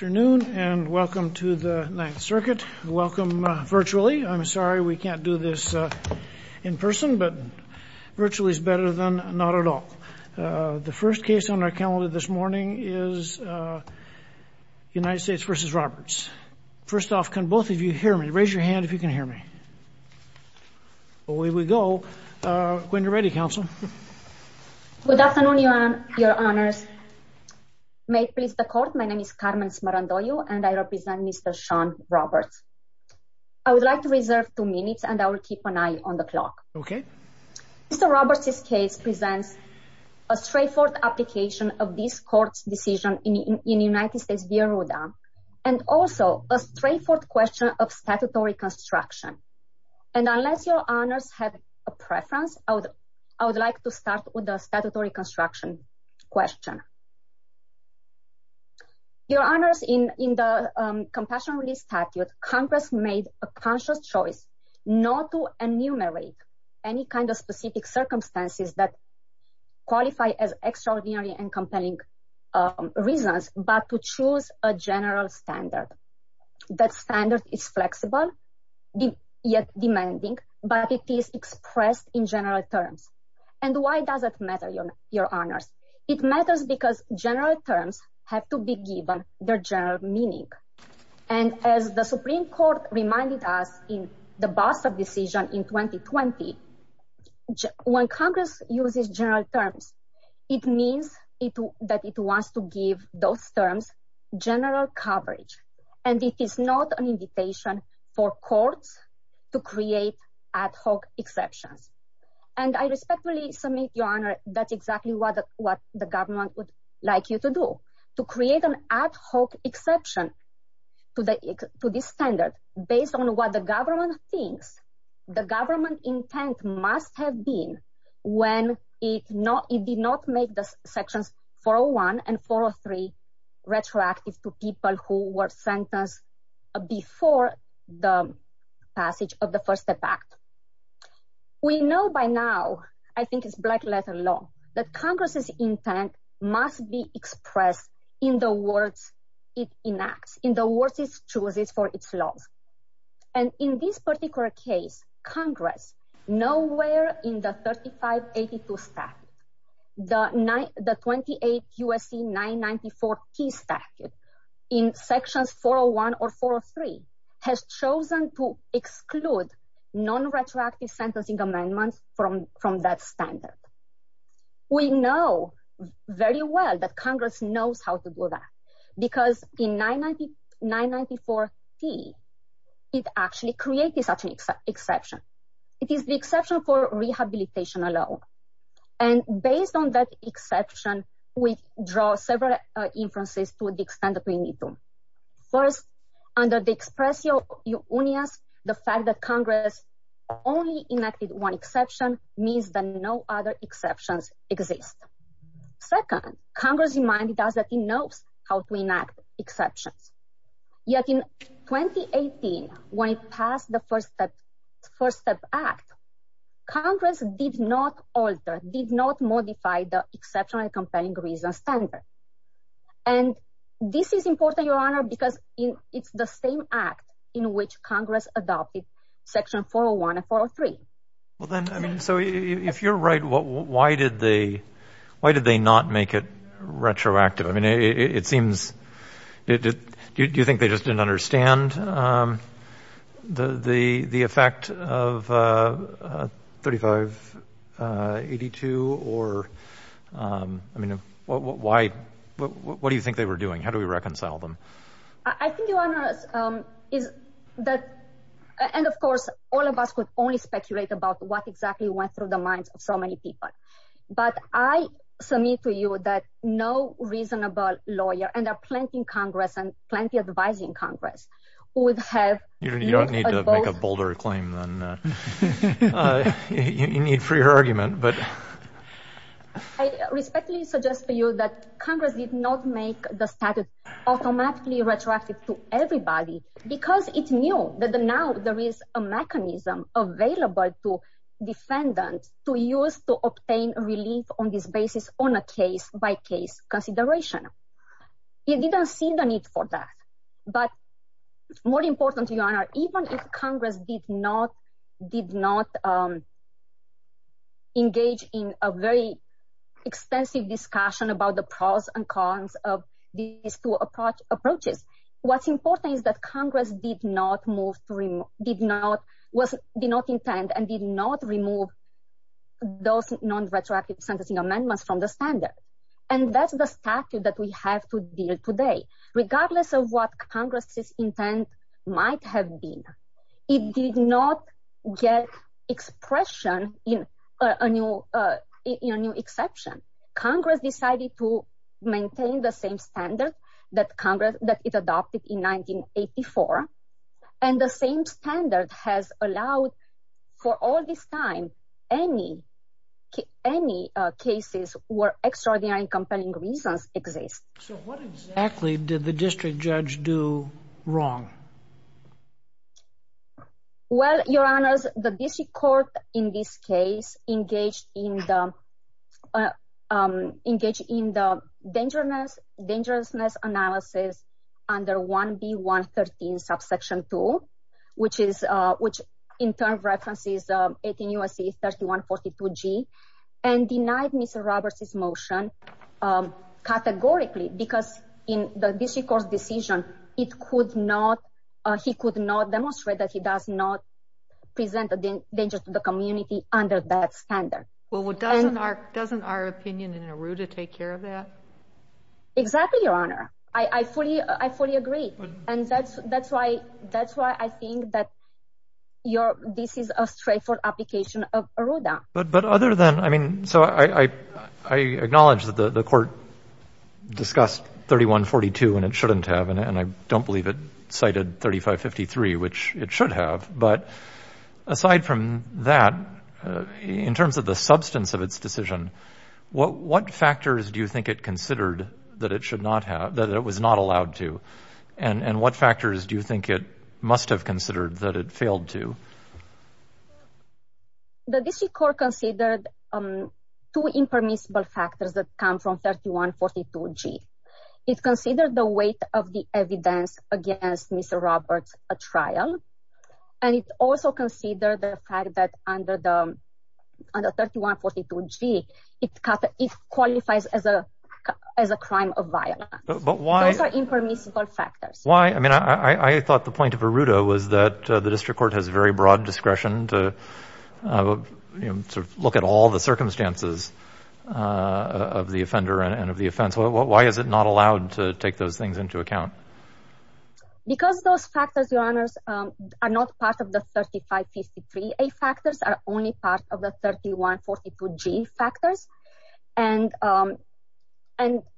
Good afternoon and welcome to the Ninth Circuit. Welcome virtually. I'm sorry we can't do this in person, but virtually is better than not at all. The first case on our calendar this morning is United States v. Roberts. First off, can both of you hear me? Raise your hand if you can hear me. Away we go. When you're ready, Counsel. Good afternoon, Your Honors. May it please the Court, my name is Carmen Smarandollo and I represent Mr. Shaun Roberts. I would like to reserve two minutes and I will keep an eye on the clock. Mr. Roberts' case presents a straightforward application of this Court's decision in United States v. Arruda, and also a straightforward question of statutory construction. And unless Your Honors have a preference, I would like to start with the statutory construction question. Your Honors, in the Compassion Relief Statute, Congress made a conscious choice not to enumerate any kind of specific circumstances that qualify as extraordinary and compelling reasons, but to choose a general standard. That standard is flexible, yet demanding, but it is expressed in general terms. And why does it matter, Your Honors? It matters because general terms have to be given their general meaning. And as the Supreme Court reminded us in the Bassett decision in 2020, when Congress uses general terms, it means that it wants to give those terms general coverage. And it is not an invitation for courts to create ad hoc exceptions. And I respectfully submit, Your Honor, that's exactly what the government would like you to do. To create an ad hoc exception to this standard, based on what the government thinks, the government intent must have been when it did not make the sections 401 and 403 retroactive to people who were sentenced before the passage of the First Step Act. We know by now, I think it's black letter law, that Congress's intent must be expressed in the words it enacts, in the words it chooses for its laws. And in this particular case, Congress, nowhere in the 3582 statute, the 28 USC 994T statute, in sections 401 or 403, has chosen to exclude non-retroactive sentencing amendments from that standard. We know very well that Congress knows how to do that. Because in 994T, it actually created such an exception. It is the exception for rehabilitation alone. And based on that exception, we draw several inferences to the extent that we need to. First, under the express unions, the fact that Congress only enacted one exception means that no other exceptions exist. Second, Congress, in mind, does not know how to enact exceptions. Yet in 2018, when it passed the First Step Act, Congress did not alter, did not modify the exception and comparing reasons standard. And this is important, Your Honor, because it's the same act in which Congress adopted section 401 and 403. So if you're right, why did they not make it retroactive? I mean, it seems, do you think they just didn't understand the effect of 3582? Or, I mean, why, what do you think they were doing? How do we reconcile them? I think, Your Honor, is that, and of course, all of us could only speculate about what exactly went through the minds of so many people. But I submit to you that no reasonable lawyer, and there are plenty in Congress and plenty advising Congress, would have… You don't need to make a bolder claim than you need for your argument, but… I respectfully suggest to you that Congress did not make the statute automatically retroactive to everybody, because it knew that now there is a mechanism available to defendants to use to obtain relief on this basis on a case-by-case consideration. It didn't see the need for that. But more important, Your Honor, even if Congress did not engage in a very extensive discussion about the pros and cons of these two approaches, what's important is that Congress did not move, did not intend, and did not remove those non-retroactive sentencing amendments from the standard. And that's the statute that we have to deal with today. Regardless of what Congress's intent might have been, it did not get expression in a new exception. Congress decided to maintain the same standard that it adopted in 1984. And the same standard has allowed, for all this time, any cases where extraordinary and compelling reasons exist. So what exactly did the district judge do wrong? Well, Your Honor, the district court in this case engaged in the dangerousness analysis under 1B113, subsection 2, which in turn references 18 U.S.C. 3142G, and denied Mr. Roberts' motion categorically, because in the district court's decision, he could not demonstrate that he does not present a danger to the community under that standard. Well, doesn't our opinion in ARRUDA take care of that? Exactly, Your Honor. I fully agree. And that's why I think that this is a straightforward application of ARRUDA. But other than, I mean, so I acknowledge that the court discussed 3142 and it shouldn't have, and I don't believe it cited 3553, which it should have. But aside from that, in terms of the substance of its decision, what factors do you think it considered that it should not have, that it was not allowed to, and what factors do you think it must have considered that it failed to? The district court considered two impermissible factors that come from 3142G. It considered the weight of the evidence against Mr. Roberts' trial, and it also considered the fact that under 3142G, it qualifies as a crime of violence. Those are impermissible factors. Why? I mean, I thought the point of ARRUDA was that the district court has very broad discretion to look at all the circumstances of the offender and of the offense. Why is it not allowed to take those things into account? Because those factors, Your Honors, are not part of the 3553A factors, are only part of the 3142G factors. And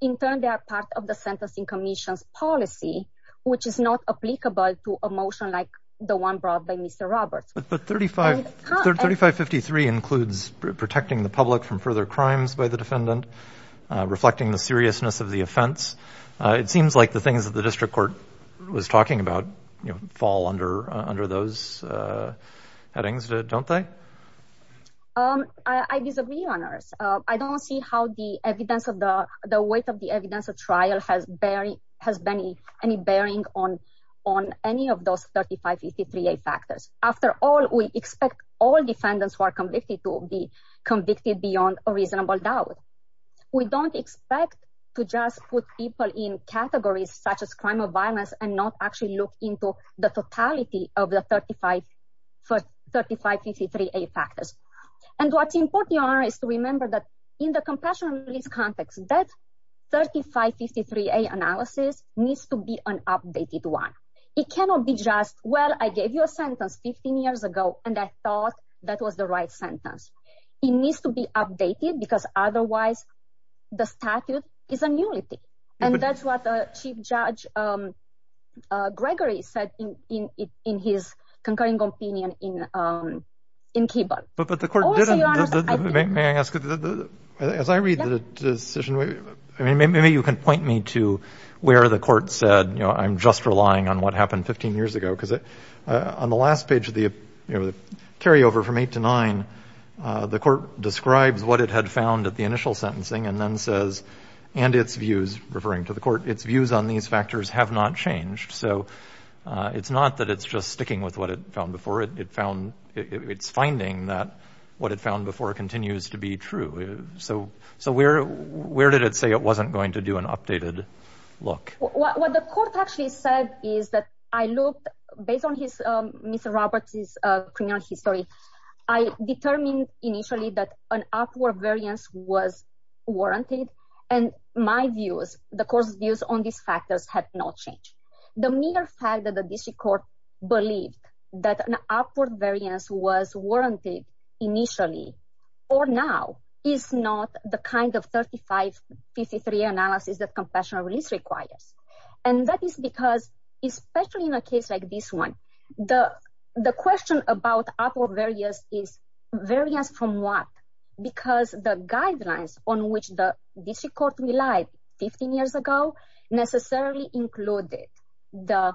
in turn, they are part of the Sentencing Commission's policy, which is not applicable to a motion like the one brought by Mr. Roberts. But 3553 includes protecting the public from further crimes by the defendant, reflecting the seriousness of the offense. It seems like the things that the district court was talking about fall under those headings, don't they? I disagree, Your Honors. I don't see how the weight of the evidence of trial has any bearing on any of those 3553A factors. After all, we expect all defendants who are convicted to be convicted beyond a reasonable doubt. We don't expect to just put people in categories such as crime or violence and not actually look into the totality of the 3553A factors. And what's important, Your Honor, is to remember that in the compassion release context, that 3553A analysis needs to be an updated one. It cannot be just, well, I gave you a sentence 15 years ago, and I thought that was the right sentence. It needs to be updated because otherwise the statute is a nullity. And that's what Chief Judge Gregory said in his concurring opinion in Kibbutz. But the court didn't. May I ask, as I read the decision, maybe you can point me to where the court said, you know, I'm just relying on what happened 15 years ago. Because on the last page of the carryover from 8 to 9, the court describes what it had found at the initial sentencing and then says, and its views, referring to the court, its views on these factors have not changed. So it's not that it's just sticking with what it found before it. It found it's finding that what it found before continues to be true. So so where where did it say it wasn't going to do an updated look? What the court actually said is that I looked based on his Mr. Roberts's criminal history. I determined initially that an upward variance was warranted. And my views, the court's views on these factors have not changed. The mere fact that the district court believed that an upward variance was warranted initially or now is not the kind of 3553 analysis that confessional release requires. And that is because especially in a case like this one, the the question about upward variance is various from what? Because the guidelines on which the district court relied 15 years ago necessarily included the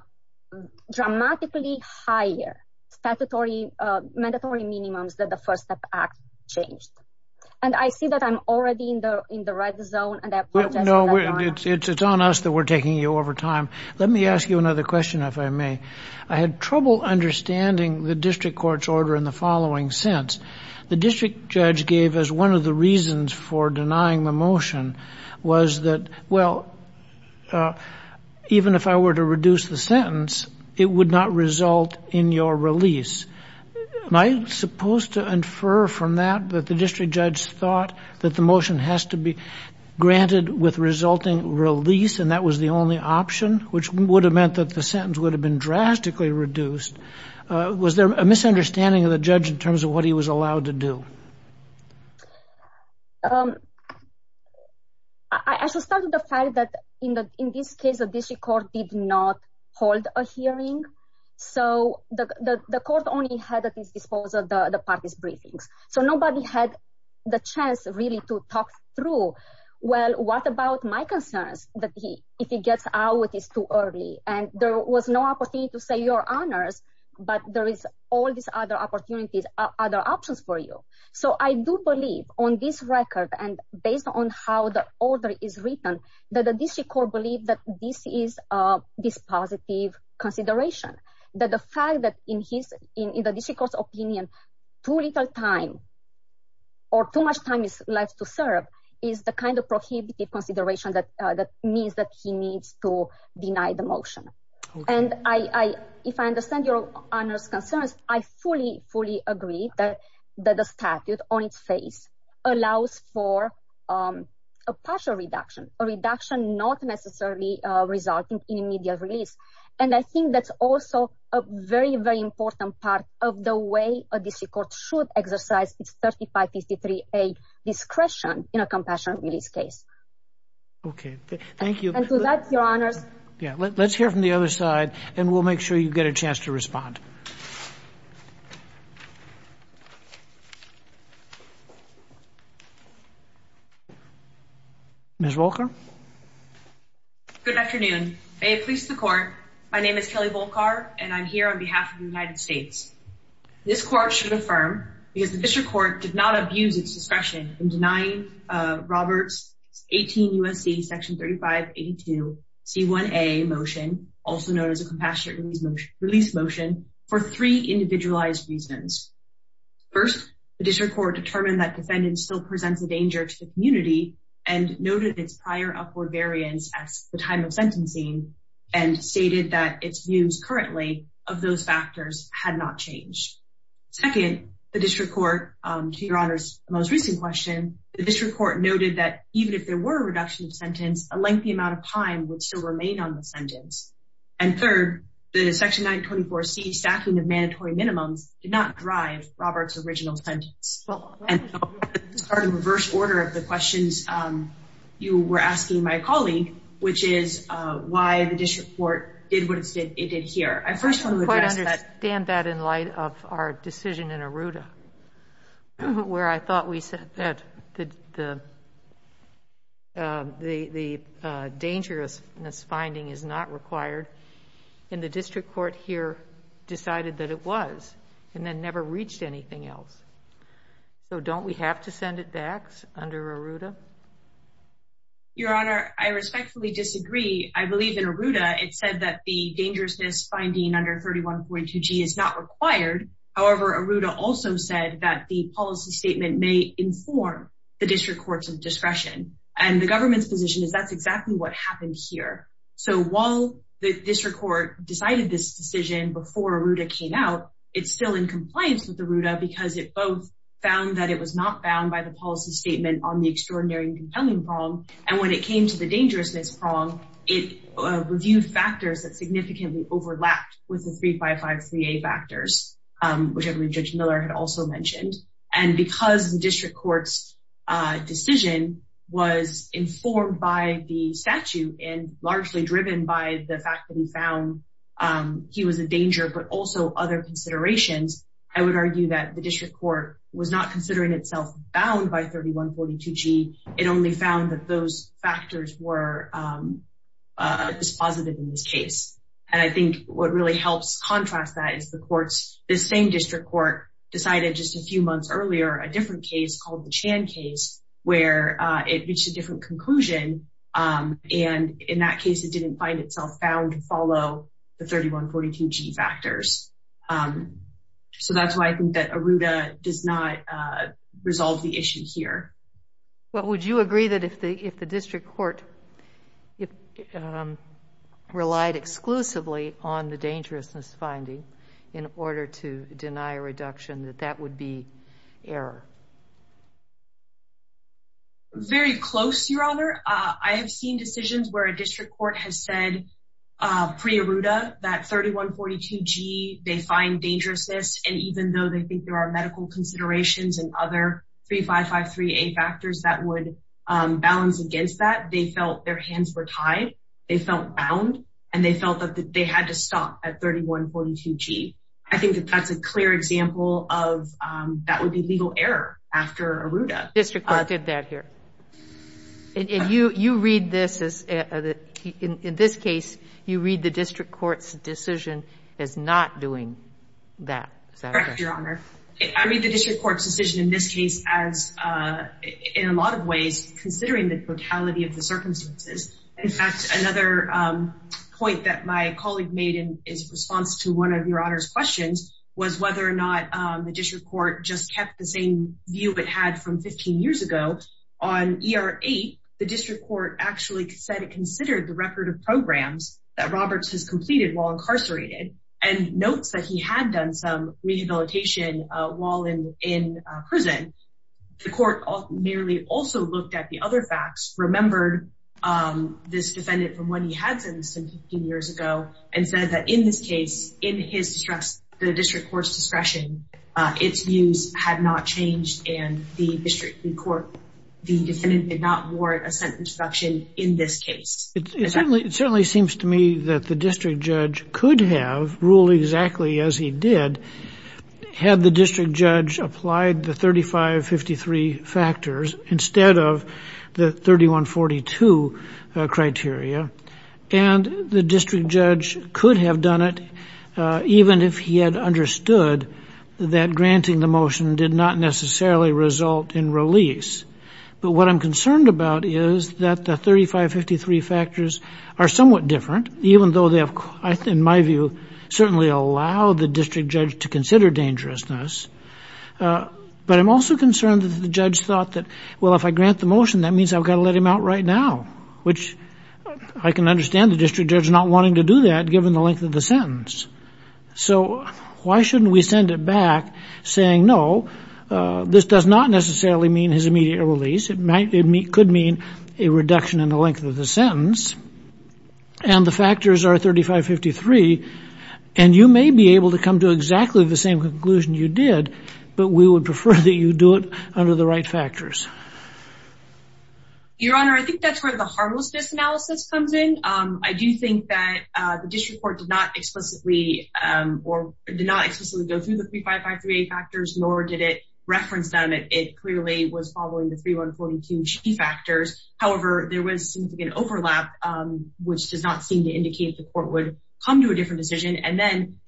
dramatically higher statutory mandatory minimums that the first step act changed. And I see that I'm already in the in the red zone. No, it's it's it's on us that we're taking you over time. Let me ask you another question, if I may. I had trouble understanding the district court's order in the following sense. The district judge gave us one of the reasons for denying the motion was that, well, even if I were to reduce the sentence, it would not result in your release. Am I supposed to infer from that that the district judge thought that the motion has to be granted with resulting release? And that was the only option, which would have meant that the sentence would have been drastically reduced. Was there a misunderstanding of the judge in terms of what he was allowed to do? I should start with the fact that in the in this case, the district court did not hold a hearing. So the court only had at its disposal the parties briefings. So nobody had the chance really to talk through. Well, what about my concerns that he if he gets out, it is too early and there was no opportunity to say your honors. But there is all these other opportunities, other options for you. So I do believe on this record and based on how the order is written, that the district court believe that this is this positive consideration. That the fact that in his in the district court's opinion, too little time. Or too much time is left to serve is the kind of prohibitive consideration that that means that he needs to deny the motion. And I if I understand your honors concerns, I fully, fully agree that the statute on its face allows for a partial reduction, a reduction, not necessarily resulting in immediate release. And I think that's also a very, very important part of the way a district court should exercise its 35, 53, a discretion in a compassionate release case. OK, thank you. And so that's your honors. Yeah. Let's hear from the other side and we'll make sure you get a chance to respond. Ms. Walker. Good afternoon. A police the court. My name is Kelly Volcar and I'm here on behalf of the United States. This court should affirm because the district court did not abuse its discretion in denying Roberts 18 U.S.C. section 3582 C1 a motion, also known as a compassionate release motion release motion for three individualized reasons. First, the district court determined that defendants still presents a danger to the community and noted its prior upward variance as the time of sentencing and stated that its views currently of those factors had not changed. Second, the district court to your honors. Minimums did not drive Robert's original sentence. Reverse order of the questions you were asking my colleague, which is why the district court did what it did here. I first want to understand that in light of our decision in Aruda. Where I thought we said that the. The dangerousness finding is not required in the district court here decided that it was and then never reached anything else. So don't we have to send it back under Aruda? Your Honor, I respectfully disagree. I believe in Aruda. It said that the dangerousness finding under 31.2 G is not required. However, Aruda also said that the policy statement may inform the district courts of discretion and the government's position is that's exactly what happened here. So, while the district court decided this decision before Aruda came out, it's still in compliance with Aruda because it both found that it was not bound by the policy statement on the extraordinary compelling prong. And when it came to the dangerousness prong, it reviewed factors that significantly overlapped with the three, five, five, three, eight factors, which every judge Miller had also mentioned. And because the district court's decision was informed by the statute and largely driven by the fact that he found he was a danger, but also other considerations. I would argue that the district court was not considering itself bound by 31.42 G. It only found that those factors were dispositive in this case. And I think what really helps contrast that is the courts, the same district court decided just a few months earlier, a different case called the Chan case, where it reached a different conclusion. And in that case, it didn't find itself found to follow the 31.42 G factors. So that's why I think that Aruda does not resolve the issue here. Well, would you agree that if the district court relied exclusively on the dangerousness finding in order to deny a reduction, that that would be error? Very close, Your Honor. I have seen decisions where a district court has said pre-Aruda that 31.42 G, they find dangerousness. And even though they think there are medical considerations and other three, five, five, three, eight factors that would balance against that, they felt their hands were tied. They felt bound and they felt that they had to stop at 31.42 G. I think that that's a clear example of that would be legal error after Aruda. District court did that here. And you read this as, in this case, you read the district court's decision as not doing that. Correct, Your Honor. I read the district court's decision in this case as, in a lot of ways, considering the brutality of the circumstances. In fact, another point that my colleague made in his response to one of Your Honor's questions was whether or not the district court just kept the same view it had from 15 years ago. On ER-8, the district court actually said it considered the record of programs that Roberts has completed while incarcerated and notes that he had done some rehabilitation while in prison. The court merely also looked at the other facts, remembered this defendant from when he had sentenced him 15 years ago, and said that in this case, in his distress, the district court's discretion, its views had not changed. And the district court, the defendant did not warrant a sentence reduction in this case. It certainly seems to me that the district judge could have ruled exactly as he did had the district judge applied the 3553 factors instead of the 3142 criteria. And the district judge could have done it even if he had understood that granting the motion did not necessarily result in release. But what I'm concerned about is that the 3553 factors are somewhat different, even though they have, in my view, certainly allowed the district judge to consider dangerousness. But I'm also concerned that the judge thought that, well, if I grant the motion, that means I've got to let him out right now, which I can understand the district judge not wanting to do that given the length of the sentence. So why shouldn't we send it back saying, no, this does not necessarily mean his immediate release. It could mean a reduction in the length of the sentence. And the factors are 3553. And you may be able to come to exactly the same conclusion you did, but we would prefer that you do it under the right factors. Your Honor, I think that's where the harmlessness analysis comes in. I do think that the district court did not explicitly or did not explicitly go through the 3553 factors, nor did it reference them. It clearly was following the 3142 factors. However, there was an overlap, which does not seem to indicate the court would come to a different decision. And then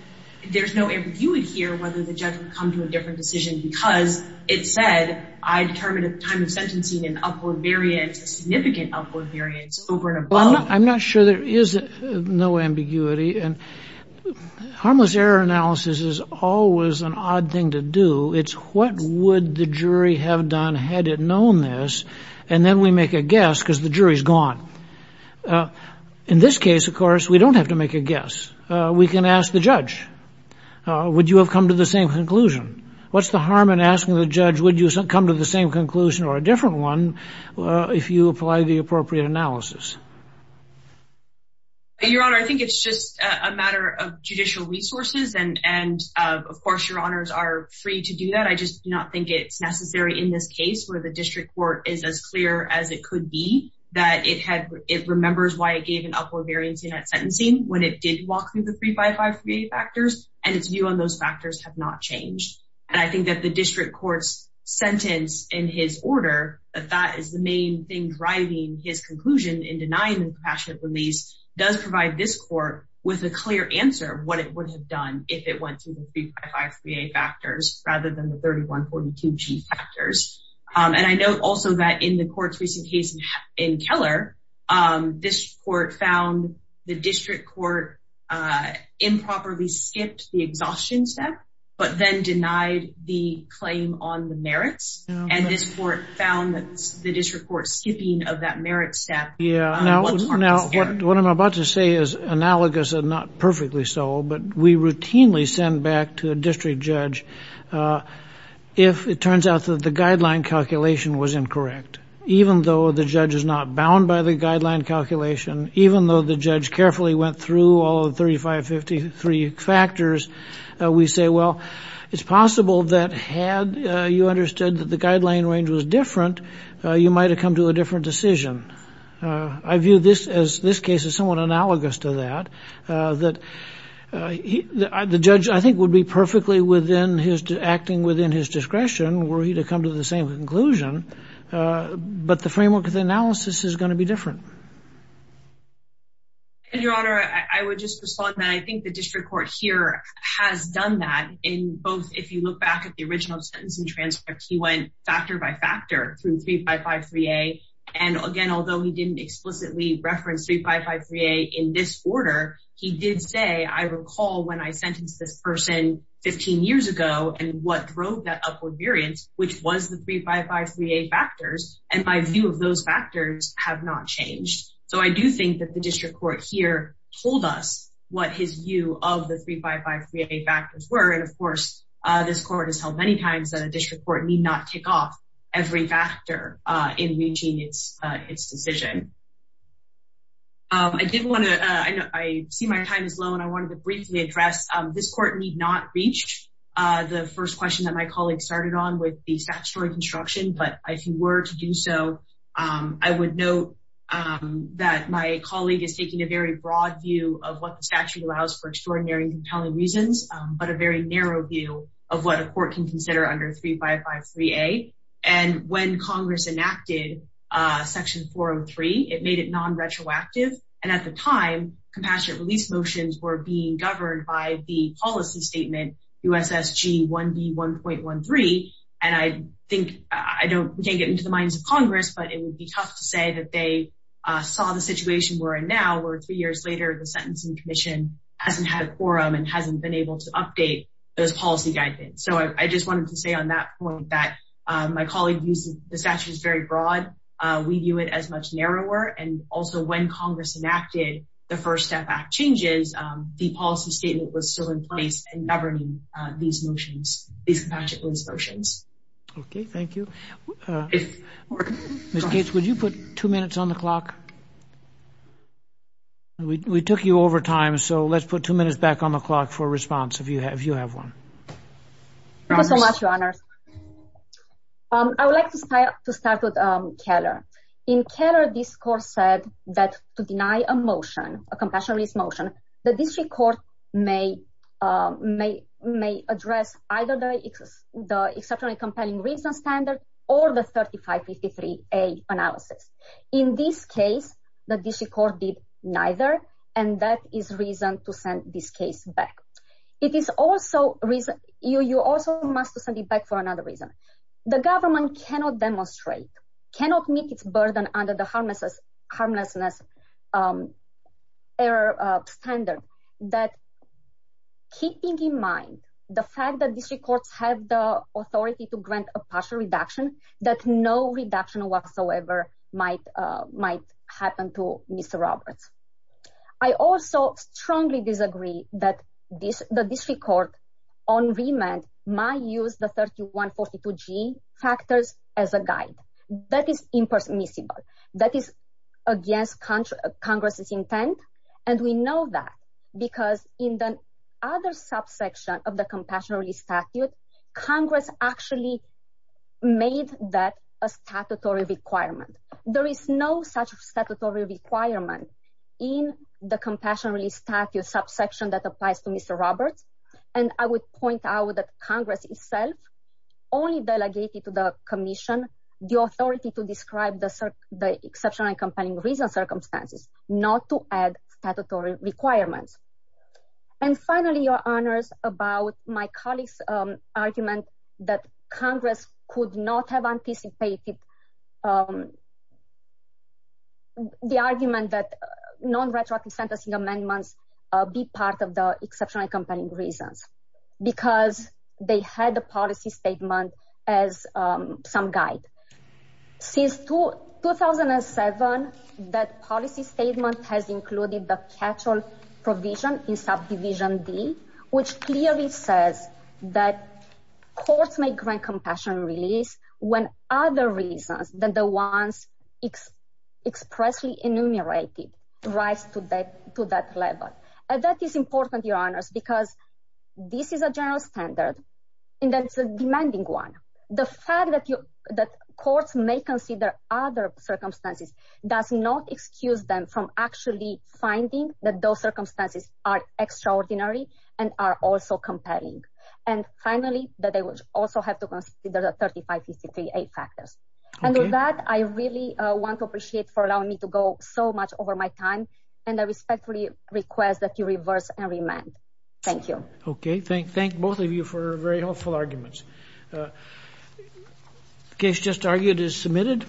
there's no if you would hear whether the judge would come to a different decision because it said I determined at the time of sentencing an upward variance, a significant upward variance over and above. I'm not sure there is no ambiguity. And harmless error analysis is always an odd thing to do. It's what would the jury have done had it known this? And then we make a guess because the jury is gone. In this case, of course, we don't have to make a guess. We can ask the judge, would you have come to the same conclusion? What's the harm in asking the judge, would you come to the same conclusion or a different one if you apply the appropriate analysis? Your Honor, I think it's just a matter of judicial resources. And of course, your honors are free to do that. I just do not think it's necessary in this case where the district court is as clear as it could be that it had. It remembers why I gave an upward variance in that sentencing when it did walk through the 3553 factors and its view on those factors have not changed. And I think that the district court's sentence in his order, that that is the main thing driving his conclusion in denying the compassionate release, does provide this court with a clear answer of what it would have done if it went through the 3553A factors rather than the 3142G factors. And I know also that in the court's recent case in Keller, this court found the district court improperly skipped the exhaustion step, but then denied the claim on the merits. And this court found the district court skipping of that merit step. What I'm about to say is analogous and not perfectly so, but we routinely send back to a district judge if it turns out that the guideline calculation was incorrect. Even though the judge is not bound by the guideline calculation, even though the judge carefully went through all of the 3553 factors, we say, well, it's possible that had you understood that the guideline range was different, you might have come to a different decision. I view this as this case is somewhat analogous to that, that the judge, I think, would be perfectly within his acting within his discretion were he to come to the same conclusion. But the framework of the analysis is going to be different. Your Honor, I would just respond that I think the district court here has done that in both. If you look back at the original sentence and transcript, he went factor by factor through 3553A. And again, although he didn't explicitly reference 3553A in this order, he did say, I recall when I sentenced this person 15 years ago and what drove that upward variance, which was the 3553A factors. And my view of those factors have not changed. So I do think that the district court here told us what his view of the 3553A factors were. And, of course, this court has held many times that a district court need not take off every factor in reaching its decision. I did want to I see my time is low and I wanted to briefly address this court need not reach the first question that my colleague started on with the statutory construction. But if you were to do so, I would note that my colleague is taking a very broad view of what the statute allows for extraordinary compelling reasons, but a very narrow view of what a court can consider under 3553A. And when Congress enacted Section 403, it made it non-retroactive. And at the time, compassionate release motions were being governed by the policy statement USSG 1B 1.13. And I think I can't get into the minds of Congress, but it would be tough to say that they saw the situation we're in now where three years later, the Sentencing Commission hasn't had a quorum and hasn't been able to update those policy guidance. So I just wanted to say on that point that my colleague uses the statute is very broad. We view it as much narrower. And also when Congress enacted the First Step Act changes, the policy statement was still in place and governing these motions, these compassionate release motions. Okay, thank you. Ms. Gates, would you put two minutes on the clock? We took you over time. So let's put two minutes back on the clock for response if you have you have one. Thank you so much, Your Honor. I would like to start with Keller. In Keller, this court said that to deny a motion, a compassionate release motion, the district court may address either the exceptionally compelling reason standard or the 3553A analysis. In this case, the district court did neither. And that is reason to send this case back. You also must send it back for another reason. The government cannot demonstrate, cannot meet its burden under the harmlessness error standard. That keeping in mind the fact that district courts have the authority to grant a partial reduction, that no reduction whatsoever might happen to Mr. Roberts. I also strongly disagree that the district court on remand might use the 3142G factors as a guide. That is impermissible. That is against Congress's intent. And we know that because in the other subsection of the compassionate release statute, Congress actually made that a statutory requirement. There is no such statutory requirement in the compassion release statute subsection that applies to Mr. Roberts. And I would point out that Congress itself only delegated to the commission the authority to describe the exceptional and compelling reason circumstances, not to add statutory requirements. And finally, Your Honors, about my colleague's argument that Congress could not have anticipated the argument that nonretroactive sentencing amendments be part of the exceptional and compelling reasons because they had the policy statement as some guide. Since 2007, that policy statement has included the catch-all provision in subdivision D, which clearly says that courts may grant compassion release when other reasons than the ones expressly enumerated rise to that level. That is important, Your Honors, because this is a general standard and it's a demanding one. The fact that courts may consider other circumstances does not excuse them from actually finding that those circumstances are extraordinary and are also compelling. And finally, that they would also have to consider the 35 PC3A factors. And with that, I really want to appreciate for allowing me to go so much over my time, and I respectfully request that you reverse and remand. Thank you. Okay, thank both of you for very helpful arguments. The case just argued is submitted.